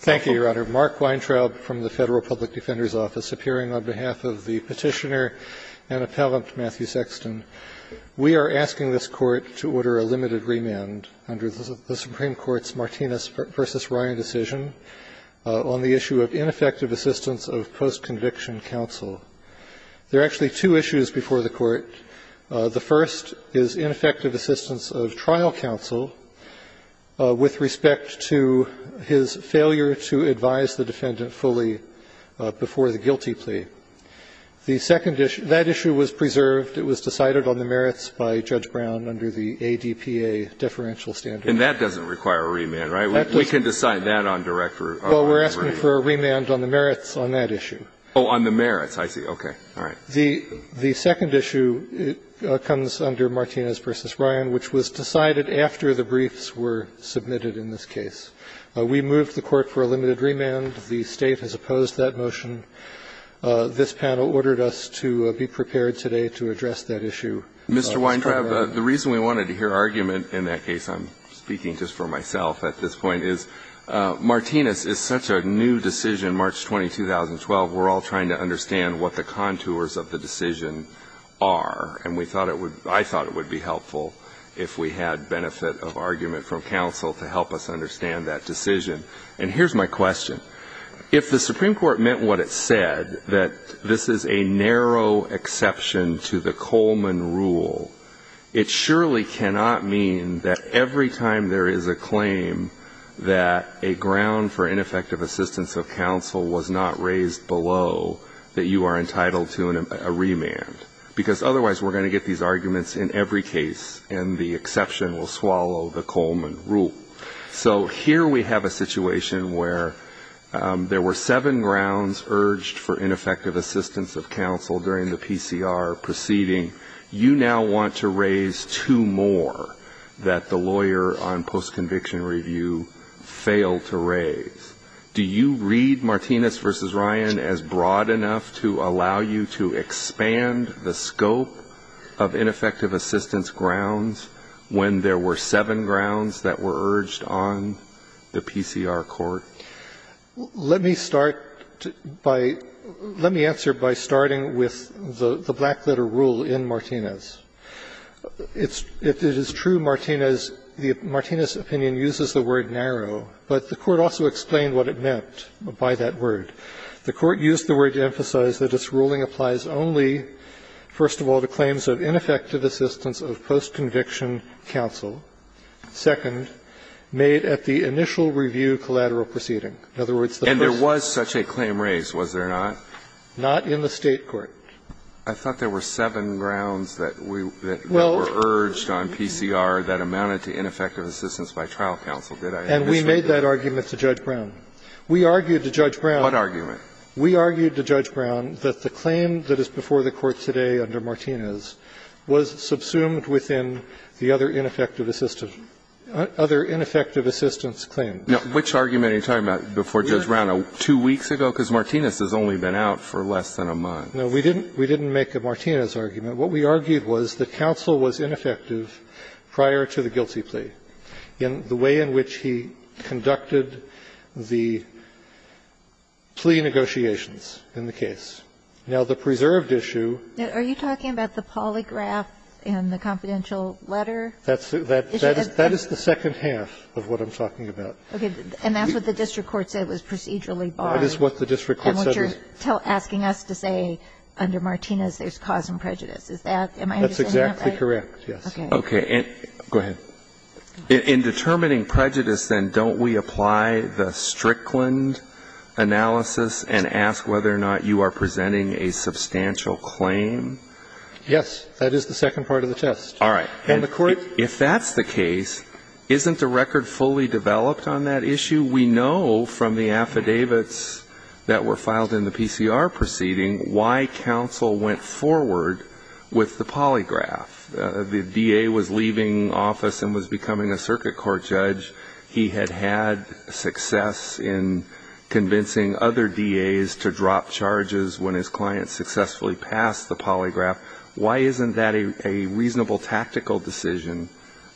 Thank you, Your Honor. Mark Weintraub from the Federal Public Defender's Office, appearing on behalf of the Petitioner and Appellant Matthew Sexton. We are asking this Court to order a limited remand under the Supreme Court's Martinez v. Ryan decision on the issue of ineffective assistance of postconviction counsel. There are actually two issues before the Court. The first is ineffective assistance of trial counsel with respect to his failure to advise the defendant fully before the guilty plea. The second issue – that issue was preserved. It was decided on the merits by Judge Brown under the ADPA deferential standard. And that doesn't require a remand, right? We can decide that on direct – Well, we're asking for a remand on the merits on that issue. Oh, on the merits. I see. Okay. All right. The second issue comes under Martinez v. Ryan, which was decided after the briefs were submitted in this case. We moved the Court for a limited remand. The State has opposed that motion. This panel ordered us to be prepared today to address that issue. Mr. Weintraub, the reason we wanted to hear argument in that case – I'm speaking just for myself at this point – is Martinez is such a new decision, March 20, 2012. We're all trying to understand what the contours of the decision are. And we thought it would – I thought it would be helpful if we had benefit of argument from counsel to help us understand that decision. And here's my question. If the Supreme Court meant what it said, that this is a narrow exception to the Coleman rule, it surely cannot mean that every time there is a claim that a ground for ineffective assistance of counsel was not raised below that you are entitled to a remand. Because otherwise we're going to get these arguments in every case, and the exception will swallow the Coleman rule. So here we have a situation where there were seven grounds urged for ineffective assistance of counsel during the PCR proceeding. You now want to raise two more that the lawyer on post-conviction review failed to raise. Do you read Martinez v. Ryan as broad enough to allow you to expand the scope of ineffective assistance grounds when there were seven grounds that were urged on the PCR court? Let me start by – let me answer by starting with the black-letter rule in Martinez. It's – if it is true, Martinez – the Martinez opinion uses the word narrow. But the Court also explained what it meant by that word. The Court used the word to emphasize that its ruling applies only, first of all, to claims of ineffective assistance of post-conviction counsel. Second, made at the initial review collateral proceeding. In other words, the first – And there was such a claim raised, was there not? Not in the State court. I thought there were seven grounds that we were urged on PCR that amounted to ineffective assistance by trial counsel. And we made that argument to Judge Brown. We argued to Judge Brown – What argument? We argued to Judge Brown that the claim that is before the Court today under Martinez was subsumed within the other ineffective assistance – other ineffective assistance claim. Now, which argument are you talking about before Judge Brown? Two weeks ago? Because Martinez has only been out for less than a month. No, we didn't – we didn't make a Martinez argument. What we argued was that counsel was ineffective prior to the guilty plea. And the way in which he conducted the plea negotiations in the case. Now, the preserved issue – Are you talking about the polygraph and the confidential letter? That's – that is the second half of what I'm talking about. Okay. And that's what the district court said was procedurally barred. That is what the district court said. And what you're asking us to say under Martinez, there's cause and prejudice. Is that – am I understanding that right? That's exactly correct, yes. Okay. Go ahead. In determining prejudice, then, don't we apply the Strickland analysis and ask whether or not you are presenting a substantial claim? Yes. That is the second part of the test. All right. And the Court – If that's the case, isn't the record fully developed on that issue? We know from the affidavits that were filed in the PCR proceeding why counsel went forward with the polygraph. The DA was leaving office and was becoming a circuit court judge. He had had success in convincing other DAs to drop charges when his client successfully passed the polygraph. Why isn't that a reasonable tactical decision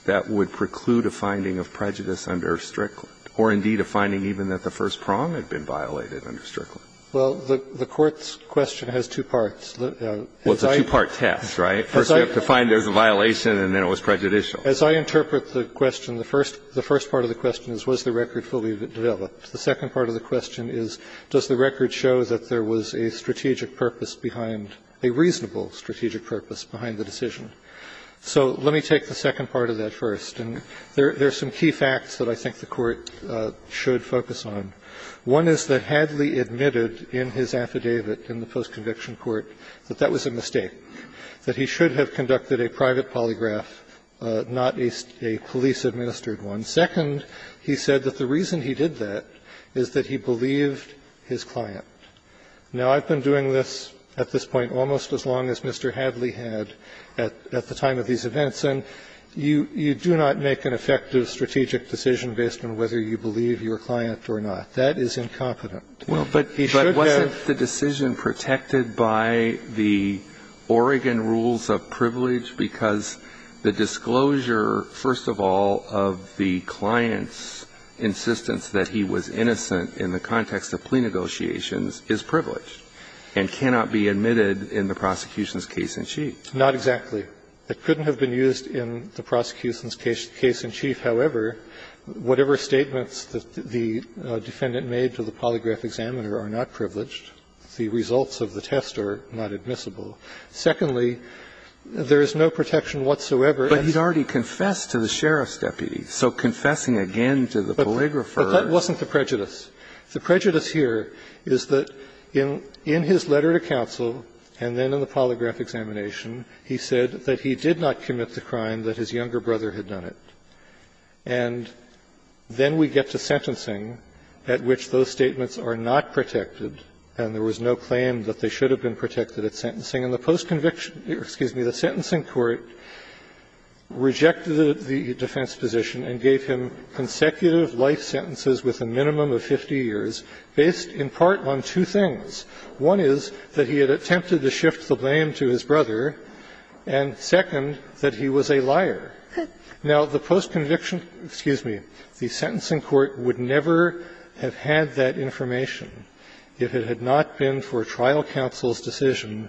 that would preclude a finding of prejudice under Strickland or, indeed, a finding even that the first prong had been violated under Strickland? Well, the Court's question has two parts. Well, it's a two-part test, right? First, you have to find there's a violation, and then it was prejudicial. As I interpret the question, the first part of the question is was the record fully developed? The second part of the question is does the record show that there was a strategic purpose behind – a reasonable strategic purpose behind the decision? So let me take the second part of that first. And there are some key facts that I think the Court should focus on. One is that Hadley admitted in his affidavit in the post-conviction court that that was a mistake. That he should have conducted a private polygraph, not a police-administered one. Second, he said that the reason he did that is that he believed his client. Now, I've been doing this at this point almost as long as Mr. Hadley had at the time of these events, and you do not make an effective strategic decision based on whether you believe your client or not. That is incompetent. But wasn't the decision protected by the Oregon rules of privilege because the disclosure, first of all, of the client's insistence that he was innocent in the context of plea negotiations is privileged and cannot be admitted in the prosecution's case in chief? Not exactly. It couldn't have been used in the prosecution's case in chief. However, whatever statements that the defendant made to the polygraph examiner are not privileged. The results of the test are not admissible. Secondly, there is no protection whatsoever. But he's already confessed to the sheriff's deputy. So confessing again to the polygrapher is not a privilege. But that wasn't the prejudice. The prejudice here is that in his letter to counsel and then in the polygraph examination, he said that he did not commit the crime that his younger brother had done it. And then we get to sentencing, at which those statements are not protected, and there was no claim that they should have been protected at sentencing. And the post-conviction or, excuse me, the sentencing court rejected the defense position and gave him consecutive life sentences with a minimum of 50 years based in part on two things. One is that he had attempted to shift the blame to his brother, and second, that he was a liar. Now, the post-conviction, excuse me, the sentencing court would never have had that information if it had not been for trial counsel's decision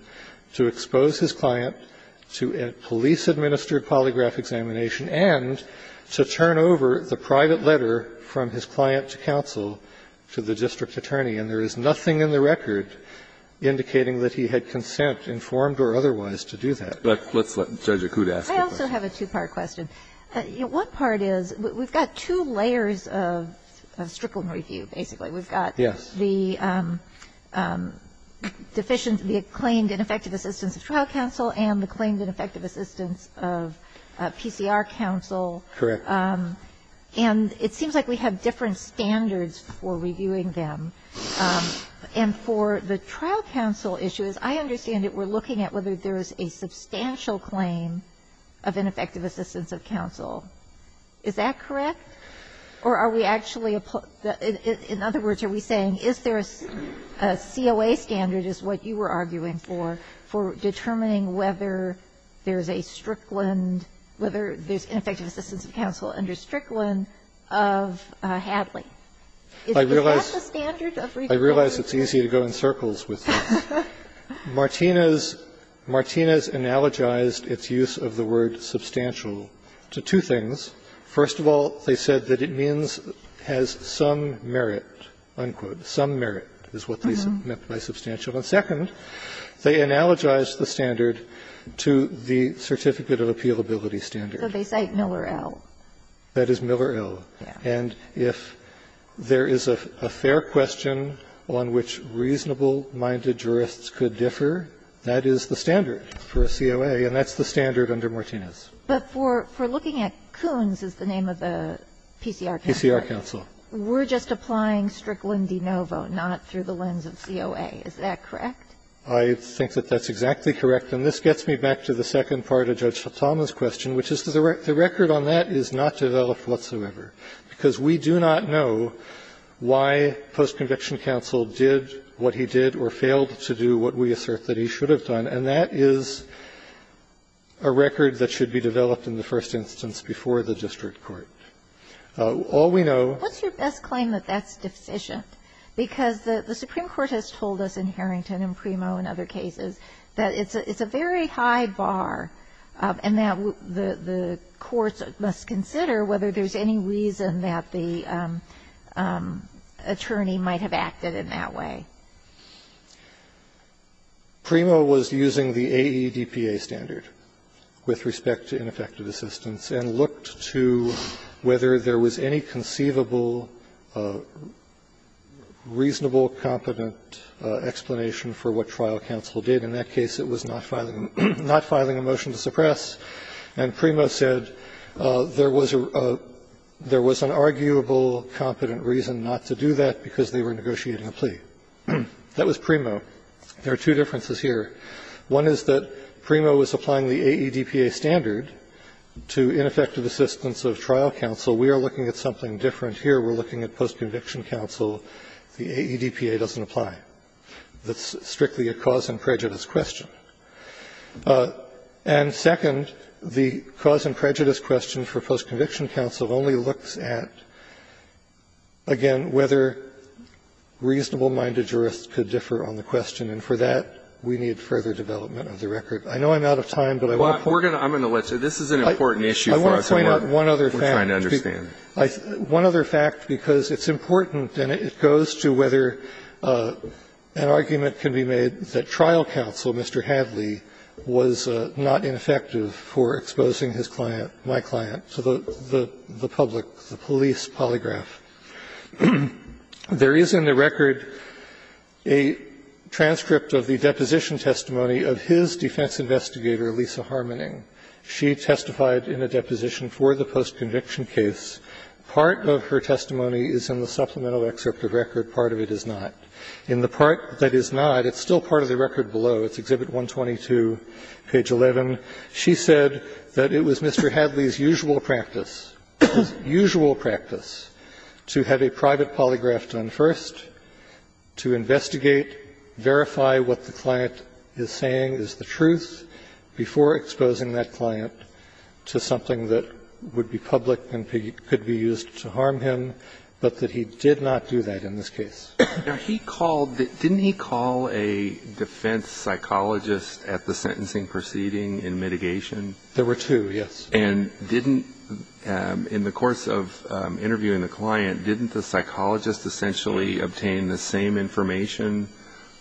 to expose his client to a police-administered polygraph examination and to turn over the private letter from his client to counsel to the district attorney. And there is nothing in the record indicating that he had consent, informed or otherwise, to do that. But let's let Judge Accoud ask the question. I also have a two-part question. One part is, we've got two layers of Strickland review, basically. We've got the deficient, the claimed and effective assistance of trial counsel and the claimed and effective assistance of PCR counsel. Correct. And it seems like we have different standards for reviewing them. And for the trial counsel issues, I understand that we're looking at whether there is a substantial claim of ineffective assistance of counsel. Is that correct? Or are we actually applying the – in other words, are we saying is there a COA standard, is what you were arguing for, for determining whether there's a Strickland – whether there's ineffective assistance of counsel under Strickland of Hadley? Is that the standard of review? I realize it's easy to go in circles with this. Martinez analogized its use of the word substantial to two things. First of all, they said that it means has some merit, unquote. Some merit is what they meant by substantial. And second, they analogized the standard to the certificate of appealability standard. So they cite Miller L. That is Miller L. And if there is a fair question on which reasonable-minded jurists could differ, that is the standard for a COA, and that's the standard under Martinez. But for looking at Kuhn's, is the name of the PCR counsel. PCR counsel. We're just applying Strickland de novo, not through the lens of COA. Is that correct? I think that that's exactly correct. And this gets me back to the second part of Judge Sotoma's question, which is the record on that is not developed whatsoever. Because we do not know why post-conviction counsel did what he did or failed to do what we assert that he should have done, and that is a record that should be developed in the first instance before the district court. All we know ---- Kagan. What's your best claim that that's deficient? Because the Supreme Court has told us in Harrington and Primo and other cases that it's a very high bar and that the courts must consider whether there's any reason that the attorney might have acted in that way. Primo was using the AEDPA standard with respect to ineffective assistance and looked to whether there was any conceivable, reasonable, competent explanation for what trial counsel did. In that case, it was not filing a motion to suppress. And Primo said there was a ---- there was an arguable, competent reason not to do that because they were negotiating a plea. That was Primo. There are two differences here. One is that Primo was applying the AEDPA standard to ineffective assistance of trial counsel. We are looking at something different here. We're looking at post-conviction counsel. The AEDPA doesn't apply. That's strictly a cause and prejudice question. And second, the cause and prejudice question for post-conviction counsel only looks at, again, whether reasonable-minded jurists could differ on the question. And for that, we need further development of the record. I know I'm out of time, but I want to point out one other fact. One other fact, because it's important and it goes to whether an argument can be made that trial counsel, Mr. Hadley, was not ineffective for exposing his client, my client, to the public, the police polygraph. There is in the record a transcript of the deposition testimony of his defense investigator, Lisa Harmoning. She testified in a deposition for the post-conviction case. Part of her testimony is in the supplemental excerpt of record. Part of it is not. In the part that is not, it's still part of the record below. It's Exhibit 122, page 11. She said that it was Mr. Hadley's usual practice, usual practice, to have a private polygraph done first, to investigate, verify what the client is saying is the truth, before exposing that client to something that would be public and could be used to harm him, but that he did not do that in this case. Now, he called the – didn't he call a defense psychologist at the sentencing proceeding in mitigation? There were two, yes. And didn't – in the course of interviewing the client, didn't the psychologist essentially obtain the same information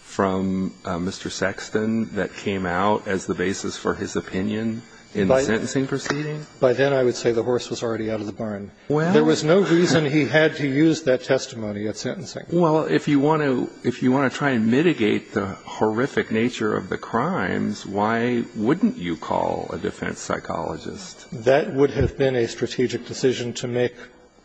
from Mr. Sexton that came out as the basis for his opinion in the sentencing proceeding? By then I would say the horse was already out of the barn. Well, there was no reason he had to use that testimony at sentencing. Well, if you want to – if you want to try and mitigate the horrific nature of the crimes, why wouldn't you call a defense psychologist? That would have been a strategic decision to make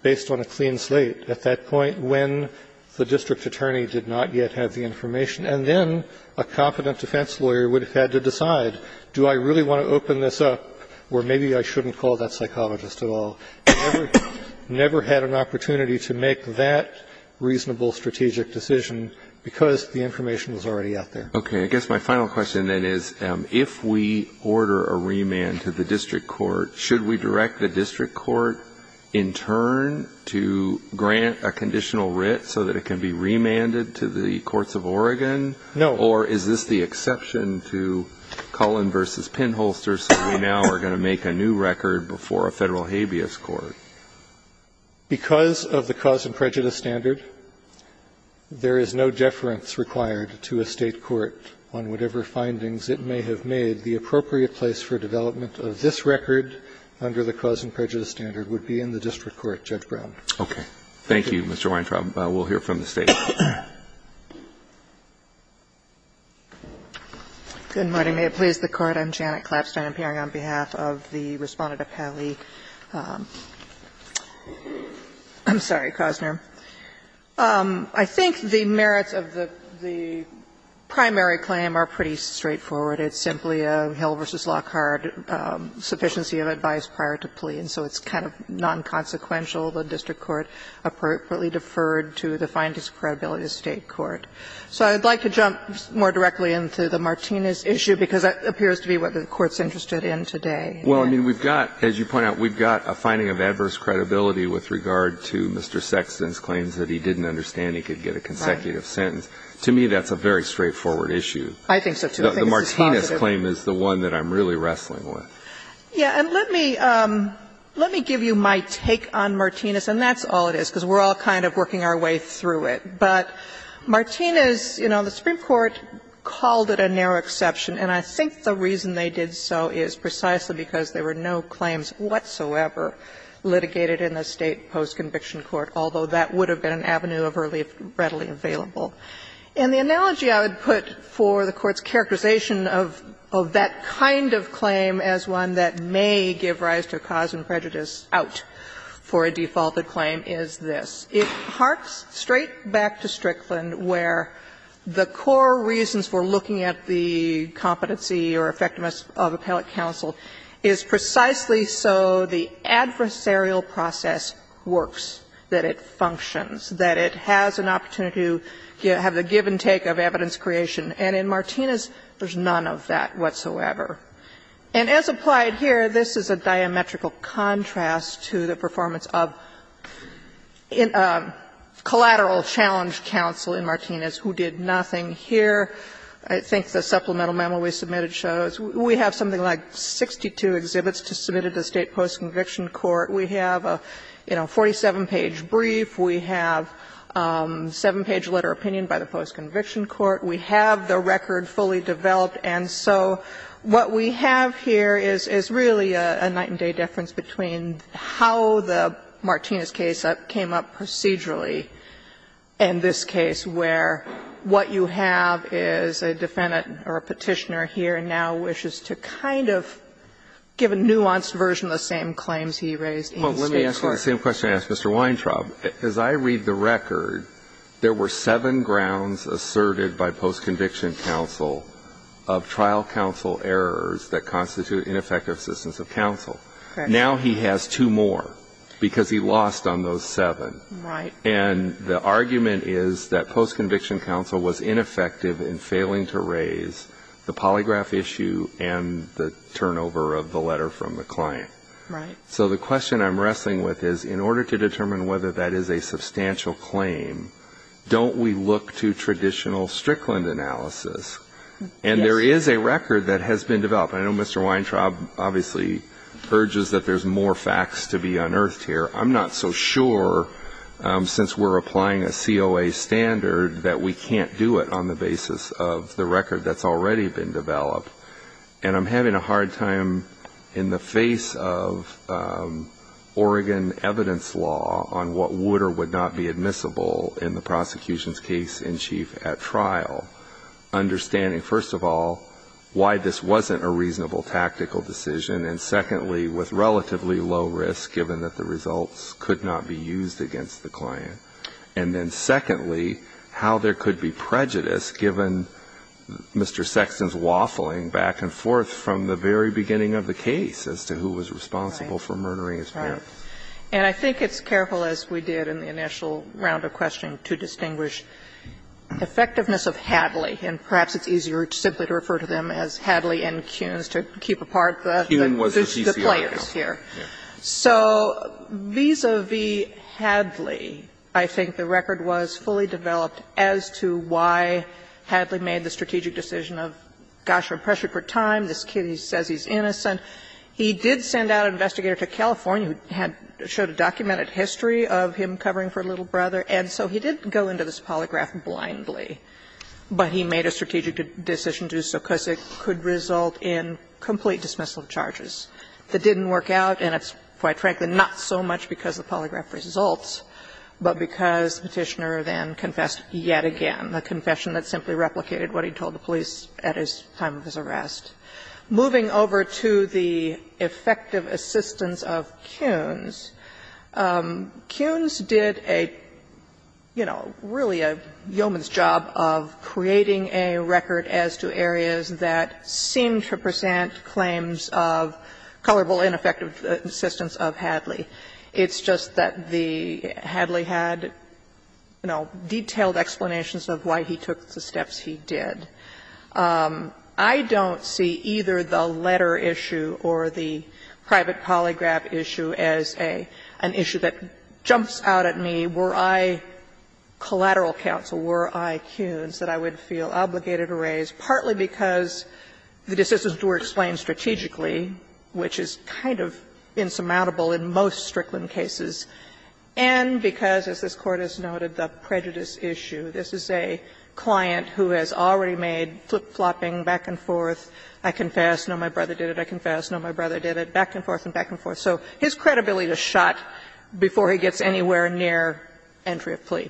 based on a clean slate at that point when the district attorney did not yet have the information. And then a confident defense lawyer would have had to decide, do I really want to open this up, or maybe I shouldn't call that psychologist at all. I never had an opportunity to make that reasonable strategic decision because the information was already out there. Okay. I guess my final question then is, if we order a remand to the district court, should we direct the district court in turn to grant a conditional writ so that it can be remanded to the courts of Oregon? No. Or is this the exception to Cullen v. Penholster, so we now are going to make a new record before a Federal habeas court? Because of the cause and prejudice standard, there is no deference required to a State court on whatever findings it may have made. The appropriate place for development of this record under the cause and prejudice standard would be in the district court, Judge Brown. Okay. Thank you, Mr. Weintraub. Good morning. May it please the Court. I'm Janet Klapstein. I'm appearing on behalf of the Respondent of Haley. I'm sorry, Cosner. I think the merits of the primary claim are pretty straightforward. It's simply a Hill v. Lockhart sufficiency of advice prior to plea, and so it's kind of nonconsequential. The district court appropriately deferred to the findings of credibility of the State court. So I'd like to jump more directly into the Martinez issue, because that appears to be what the Court's interested in today. Well, I mean, we've got, as you point out, we've got a finding of adverse credibility with regard to Mr. Sexton's claims that he didn't understand he could get a consecutive sentence. To me, that's a very straightforward issue. I think so, too. The Martinez claim is the one that I'm really wrestling with. Yeah. And let me give you my take on Martinez, and that's all it is, because we're all kind of working our way through it. But Martinez, you know, the Supreme Court called it a narrow exception, and I think the reason they did so is precisely because there were no claims whatsoever litigated in the State post-conviction court, although that would have been an avenue of relief readily available. And the analogy I would put for the Court's characterization of that kind of claim as one that may give rise to cause and prejudice out for a defaulted claim is this. It harks straight back to Strickland, where the core reasons for looking at the competency or effectiveness of appellate counsel is precisely so the adversarial process works, that it functions, that it has an opportunity to have the give and take of evidence creation. And in Martinez, there's none of that whatsoever. And as applied here, this is a diametrical contrast to the performance of collateral challenge counsel in Martinez, who did nothing here. I think the supplemental memo we submitted shows we have something like 62 exhibits to submit at the State post-conviction court. We have a, you know, 47-page brief. We have a 7-page letter of opinion by the post-conviction court. We have the record fully developed. And so what we have here is really a night-and-day difference between how the Martinez case came up procedurally in this case, where what you have is a defendant or a Petitioner here now wishes to kind of give a nuanced version of the same claims he raised in the State court. Well, let me ask you the same question I asked Mr. Weintraub. As I read the record, there were seven grounds asserted by post-conviction counsel of trial counsel errors that constitute ineffective assistance of counsel. Now he has two more because he lost on those seven. And the argument is that post-conviction counsel was ineffective in failing to raise the polygraph issue and the turnover of the letter from the client. So the question I'm wrestling with is, in order to determine whether that is a substantial claim, don't we look to traditional Strickland analysis? And there is a record that has been developed. I know Mr. Weintraub obviously urges that there's more facts to be unearthed here. I'm not so sure, since we're applying a COA standard, that we can't do it on the basis of the record that's already been developed. And I'm having a hard time in the face of Oregon evidence law on what would or would not be admissible in the prosecution's case in chief at trial, understanding first of all why this wasn't a reasonable tactical decision, and secondly, with relatively low risk given that the results could not be used against the client, and then secondly, how there could be prejudice given Mr. Sexton's waffling back and forth from the very beginning of the case as to who was responsible for murdering his parents. And I think it's careful, as we did in the initial round of questioning, to distinguish effectiveness of Hadley, and perhaps it's easier simply to refer to them as Hadley and Kuhns to keep apart the players here. So vis-a-vis Hadley, I think the record was fully developed as to why Hadley made the strategic decision of, gosh, you're pressured for time, this kid says he's innocent. He did send out an investigator to California who had showed a documented history of him covering for a little brother, and so he did go into this polygraph blindly, but he made a strategic decision to do so because it could result in complete dismissal of charges. That didn't work out, and it's quite frankly not so much because the polygraph results, but because Petitioner then confessed yet again, a confession that simply replicated what he told the police at his time of his arrest. Moving over to the effective assistance of Kuhns, Kuhns did a, you know, really a yeoman's job of creating a record as to areas that seem to present claims of colorable ineffective assistance of Hadley. It's just that the Hadley had, you know, detailed explanations of why he took the steps he did. I don't see either the letter issue or the private polygraph issue as an issue that jumps out at me. Were I collateral counsel, were I Kuhns, that I would feel obligated to raise, partly because the decisions were explained strategically, which is kind of insurmountable in most Strickland cases, and because, as this Court has noted, the prejudice issue, this is a client who has already made flip-flopping back and forth, I confess, no, my brother did it, I confess, no, my brother did it, back and forth and back and forth, so his credibility is shot before he gets anywhere near entry of plea.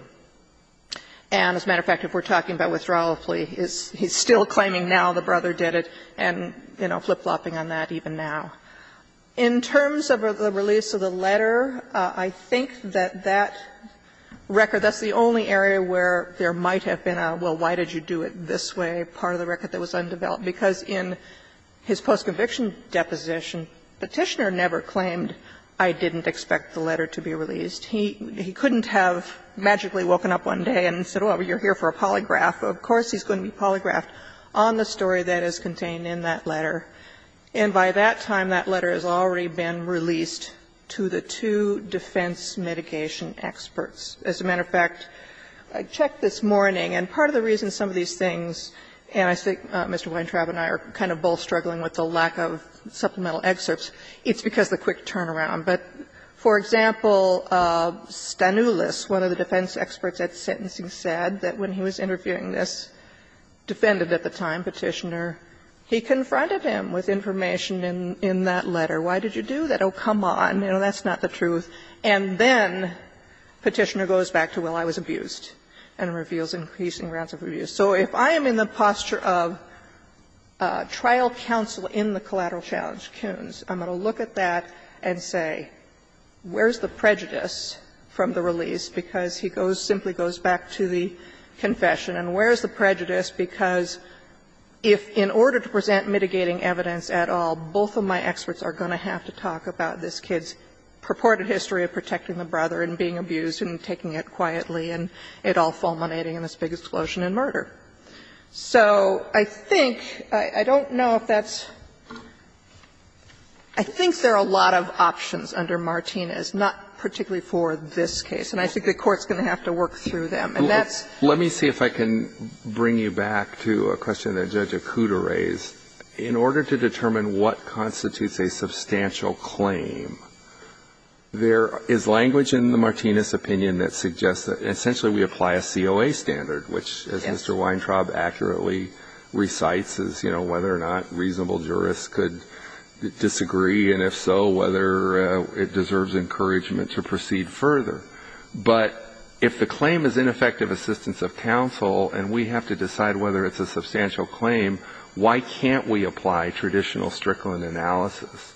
And as a matter of fact, if we're talking about withdrawal of plea, he's still claiming now the brother did it and, you know, flip-flopping on that even now. In terms of the release of the letter, I think that that record, that's the only area where there might have been a, well, why did you do it this way, part of the record that was undeveloped, because in his post-conviction deposition, Petitioner never claimed, I didn't expect the letter to be released. He couldn't have magically woken up one day and said, well, you're here for a polygraph. Of course he's going to be polygraphed on the story that is contained in that letter. And by that time, that letter has already been released to the two defense mitigation experts. As a matter of fact, I checked this morning, and part of the reason some of these things, and I think Mr. Weintraub and I are kind of both struggling with the lack of supplemental excerpts, it's because of the quick turnaround. But, for example, Stanoulis, one of the defense experts at Sentencing, said that when he was interviewing this defendant at the time, Petitioner, he confronted him with information in that letter. Why did you do that? Oh, come on. You know, that's not the truth. And then Petitioner goes back to, well, I was abused, and reveals increasing grounds of abuse. So if I am in the posture of trial counsel in the collateral challenge, Kuhns, I'm going to look at that and say, where's the prejudice from the release, because he goes, simply goes back to the confession, and where's the prejudice, because if, in order to present mitigating evidence at all, both of my experts are going to have to talk about this kid's purported history of protecting the brother and being abused and taking it quietly and it all fulminating in this big explosion and murder. So I think, I don't know if that's – I think there are a lot of options under Martinez, not particularly for this case. And I think the Court's going to have to work through them. And that's – Let me see if I can bring you back to a question that Judge Acuda raised. In order to determine what constitutes a substantial claim, there is language in the Martinez opinion that suggests that essentially we apply a COA standard, which, as Mr. Weintraub accurately recites, is, you know, whether or not reasonable jurists could disagree, and if so, whether it deserves encouragement to proceed further. But if the claim is ineffective assistance of counsel, and we have to decide whether it's a substantial claim, why can't we apply traditional Strickland analysis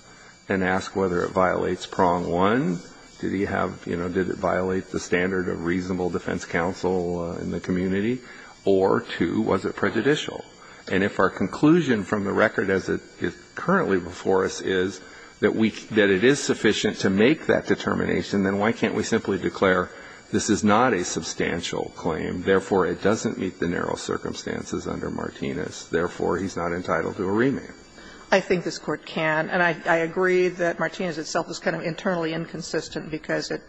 and ask whether it violates prong one, did he have – you know, did it violate the standard of reasonable defense counsel in the community? Or two, was it prejudicial? And if our conclusion from the record as it is currently before us is that we – that it is sufficient to make that determination, then why can't we simply declare this is not a substantial claim, therefore, it doesn't meet the narrow circumstances under Martinez, therefore, he's not entitled to a remand? I think this Court can. And I agree that Martinez itself is kind of internally inconsistent because it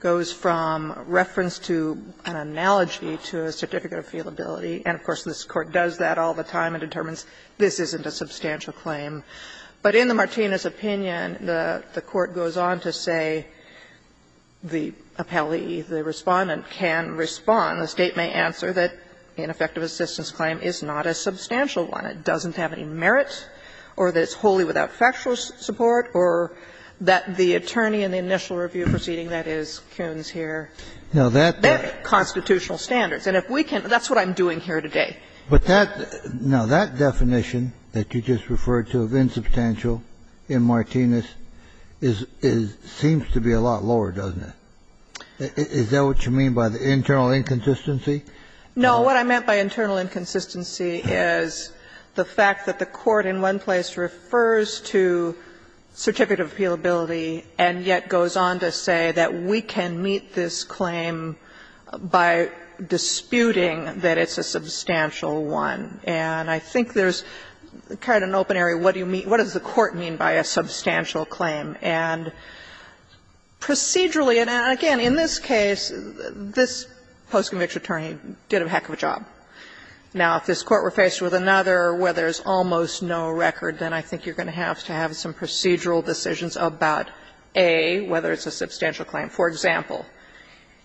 goes from reference to an analogy to a certificate of fealability. And, of course, this Court does that all the time and determines this isn't a substantial claim. But in the Martinez opinion, the Court goes on to say the appellee, the respondent can respond. The State may answer that an effective assistance claim is not a substantial one, it doesn't have any merit, or that it's wholly without factual support, or that the attorney in the initial review proceeding, that is, Kuhn's here, met constitutional standards. And if we can – that's what I'm doing here today. Kennedy. But that – now, that definition that you just referred to of insubstantial in Martinez is – seems to be a lot lower, doesn't it? Is that what you mean by the internal inconsistency? No. What I meant by internal inconsistency is the fact that the Court in one place refers to certificate of fealability, and yet goes on to say that we can meet this claim by disputing that it's a substantial one. And I think there's kind of an open area, what do you mean – what does the Court mean by a substantial claim? And procedurally – and again, in this case, this post-conviction attorney did a heck of a job. Now, if this Court were faced with another where there's almost no record, then I think you're going to have to have some procedural decisions about, A, whether it's a substantial claim. For example,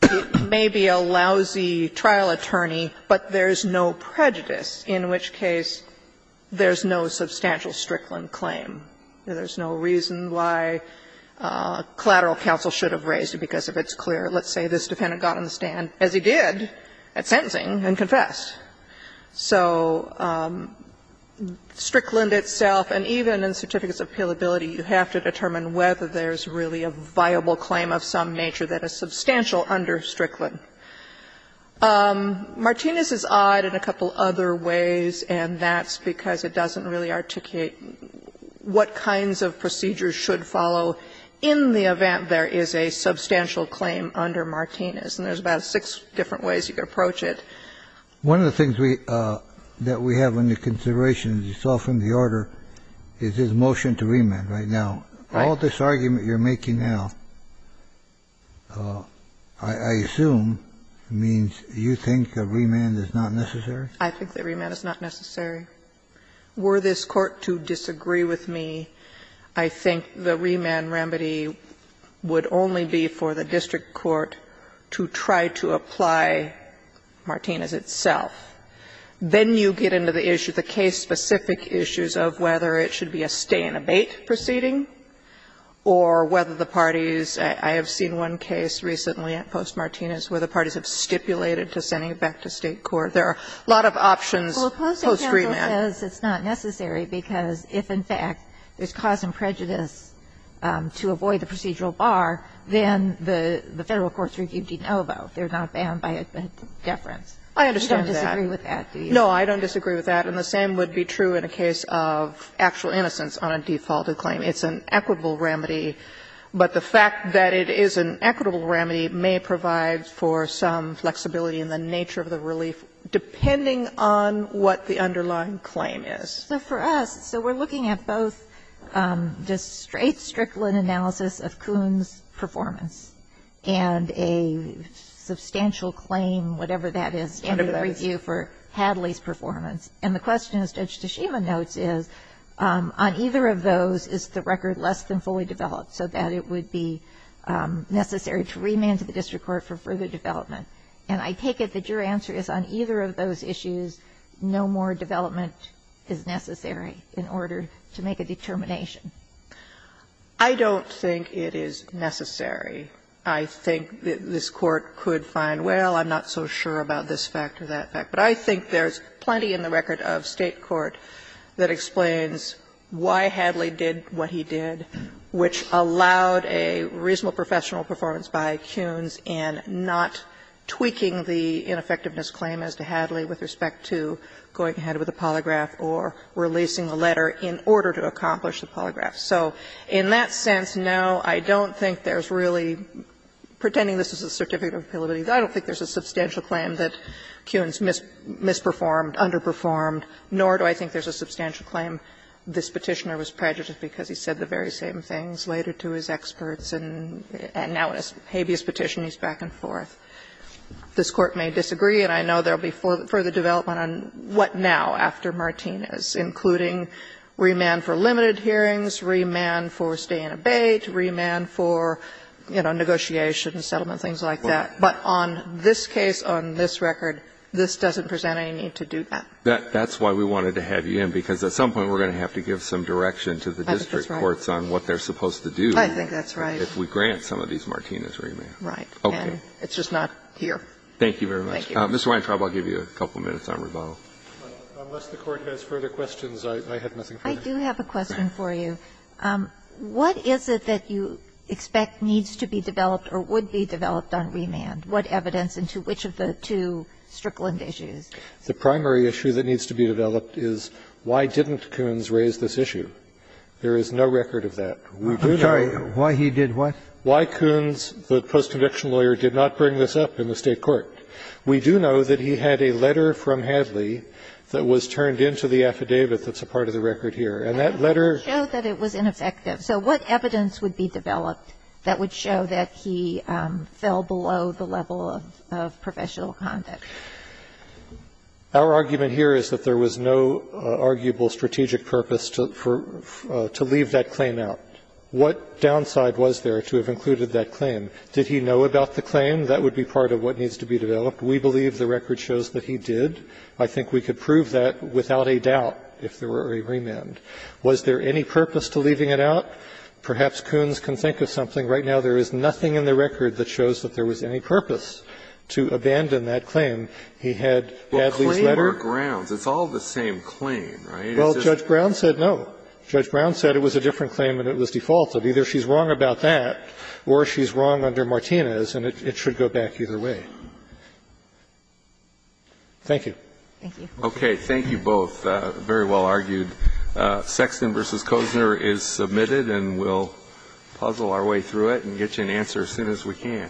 it may be a lousy trial attorney, but there's no prejudice, in which case there's no substantial Strickland claim. There's no reason why collateral counsel should have raised it, because if it's clear, let's say this defendant got on the stand, as he did at sentencing, and confessed. So Strickland itself, and even in certificates of fealability, you have to determine whether there's really a viable claim of some nature that is substantial under Strickland. Martinez is odd in a couple other ways, and that's because it doesn't really articulate what kinds of procedures should follow in the event there is a substantial claim under Martinez. And there's about six different ways you could approach it. One of the things we – that we have under consideration, as you saw from the order, is this motion to remand right now. Right. All this argument you're making now, I assume, means you think a remand is not necessary? I think the remand is not necessary. Were this Court to disagree with me, I think the remand remedy would only be for the district court to try to apply Martinez itself. Then you get into the issue, the case-specific issues of whether it should be a stay and abate proceeding, or whether the parties – I have seen one case recently at Post-Martinez where the parties have stipulated to sending it back to State court. There are a lot of options post-remand. Well, opposing counsel says it's not necessary because if, in fact, there's cause and prejudice to avoid the procedural bar, then the Federal courts review de novo. They're not bound by a deference. I understand that. You don't disagree with that, do you? No, I don't disagree with that. And the same would be true in a case of actual innocence on a defaulted claim. It's an equitable remedy, but the fact that it is an equitable remedy may provide for some flexibility in the nature of the relief, depending on what the underlying claim is. So for us, so we're looking at both just straight Strickland analysis of Kuhn's performance and a substantial claim, whatever that is, in the review for Hadley's performance. And the question, as Judge Toshiba notes, is on either of those, is the record less than fully developed so that it would be necessary to remand to the district court for further development? And I take it that your answer is on either of those issues, no more development is necessary in order to make a determination. I don't think it is necessary. I think this Court could find, well, I'm not so sure about this fact or that fact. But I think there's plenty in the record of State court that explains why Hadley did what he did, which allowed a reasonable professional performance by Kuhn's in not tweaking the ineffectiveness claim as to Hadley with respect to going ahead with a polygraph or releasing a letter in order to accomplish the polygraph. So in that sense, no, I don't think there's really, pretending this is a certificate of appeal, I don't think there's a substantial claim that Kuhn's misperformed, underperformed, nor do I think there's a substantial claim this Petitioner was prejudiced because he said the very same things later to his experts and now in a habeas petition he's back and forth. This Court may disagree, and I know there will be further development on what now after Martinez, including remand for limited hearings, remand for stay and abate, remand for, you know, negotiation, settlement, things like that. But on this case, on this record, this doesn't present any need to do that. That's why we wanted to have you in, because at some point we're going to have to give some direction to the district courts on what they're supposed to do if we grant some of these Martinez remands. Okay. Kagan. It's just not here. Thank you very much. Mr. Weintraub, I'll give you a couple minutes on Ravalli. Unless the Court has further questions, I have nothing further. I do have a question for you. What is it that you expect needs to be developed or would be developed on remand? What evidence and to which of the two Strickland issues? The primary issue that needs to be developed is why didn't Koons raise this issue? There is no record of that. We do know why he did what? Why Koons, the post-conviction lawyer, did not bring this up in the State court. We do know that he had a letter from Hadley that was turned into the affidavit that's a part of the record here. And that letter ---- It showed that it was ineffective. So what evidence would be developed that would show that he fell below the level of professional conduct? Our argument here is that there was no arguable strategic purpose to leave that claim out. What downside was there to have included that claim? Did he know about the claim? That would be part of what needs to be developed. We believe the record shows that he did. I think we could prove that without a doubt if there were a remand. Was there any purpose to leaving it out? Perhaps Koons can think of something. Right now, there is nothing in the record that shows that there was any purpose to abandon that claim. He had Hadley's letter. Well, claim or grounds, it's all the same claim, right? Well, Judge Brown said no. Judge Brown said it was a different claim and it was defaulted. Either she's wrong about that or she's wrong under Martinez, and it should go back either way. Thank you. Thank you. Okay. Thank you both. Very well argued. Sexton v. Kosner is submitted, and we'll puzzle our way through it and get you an answer as soon as we can.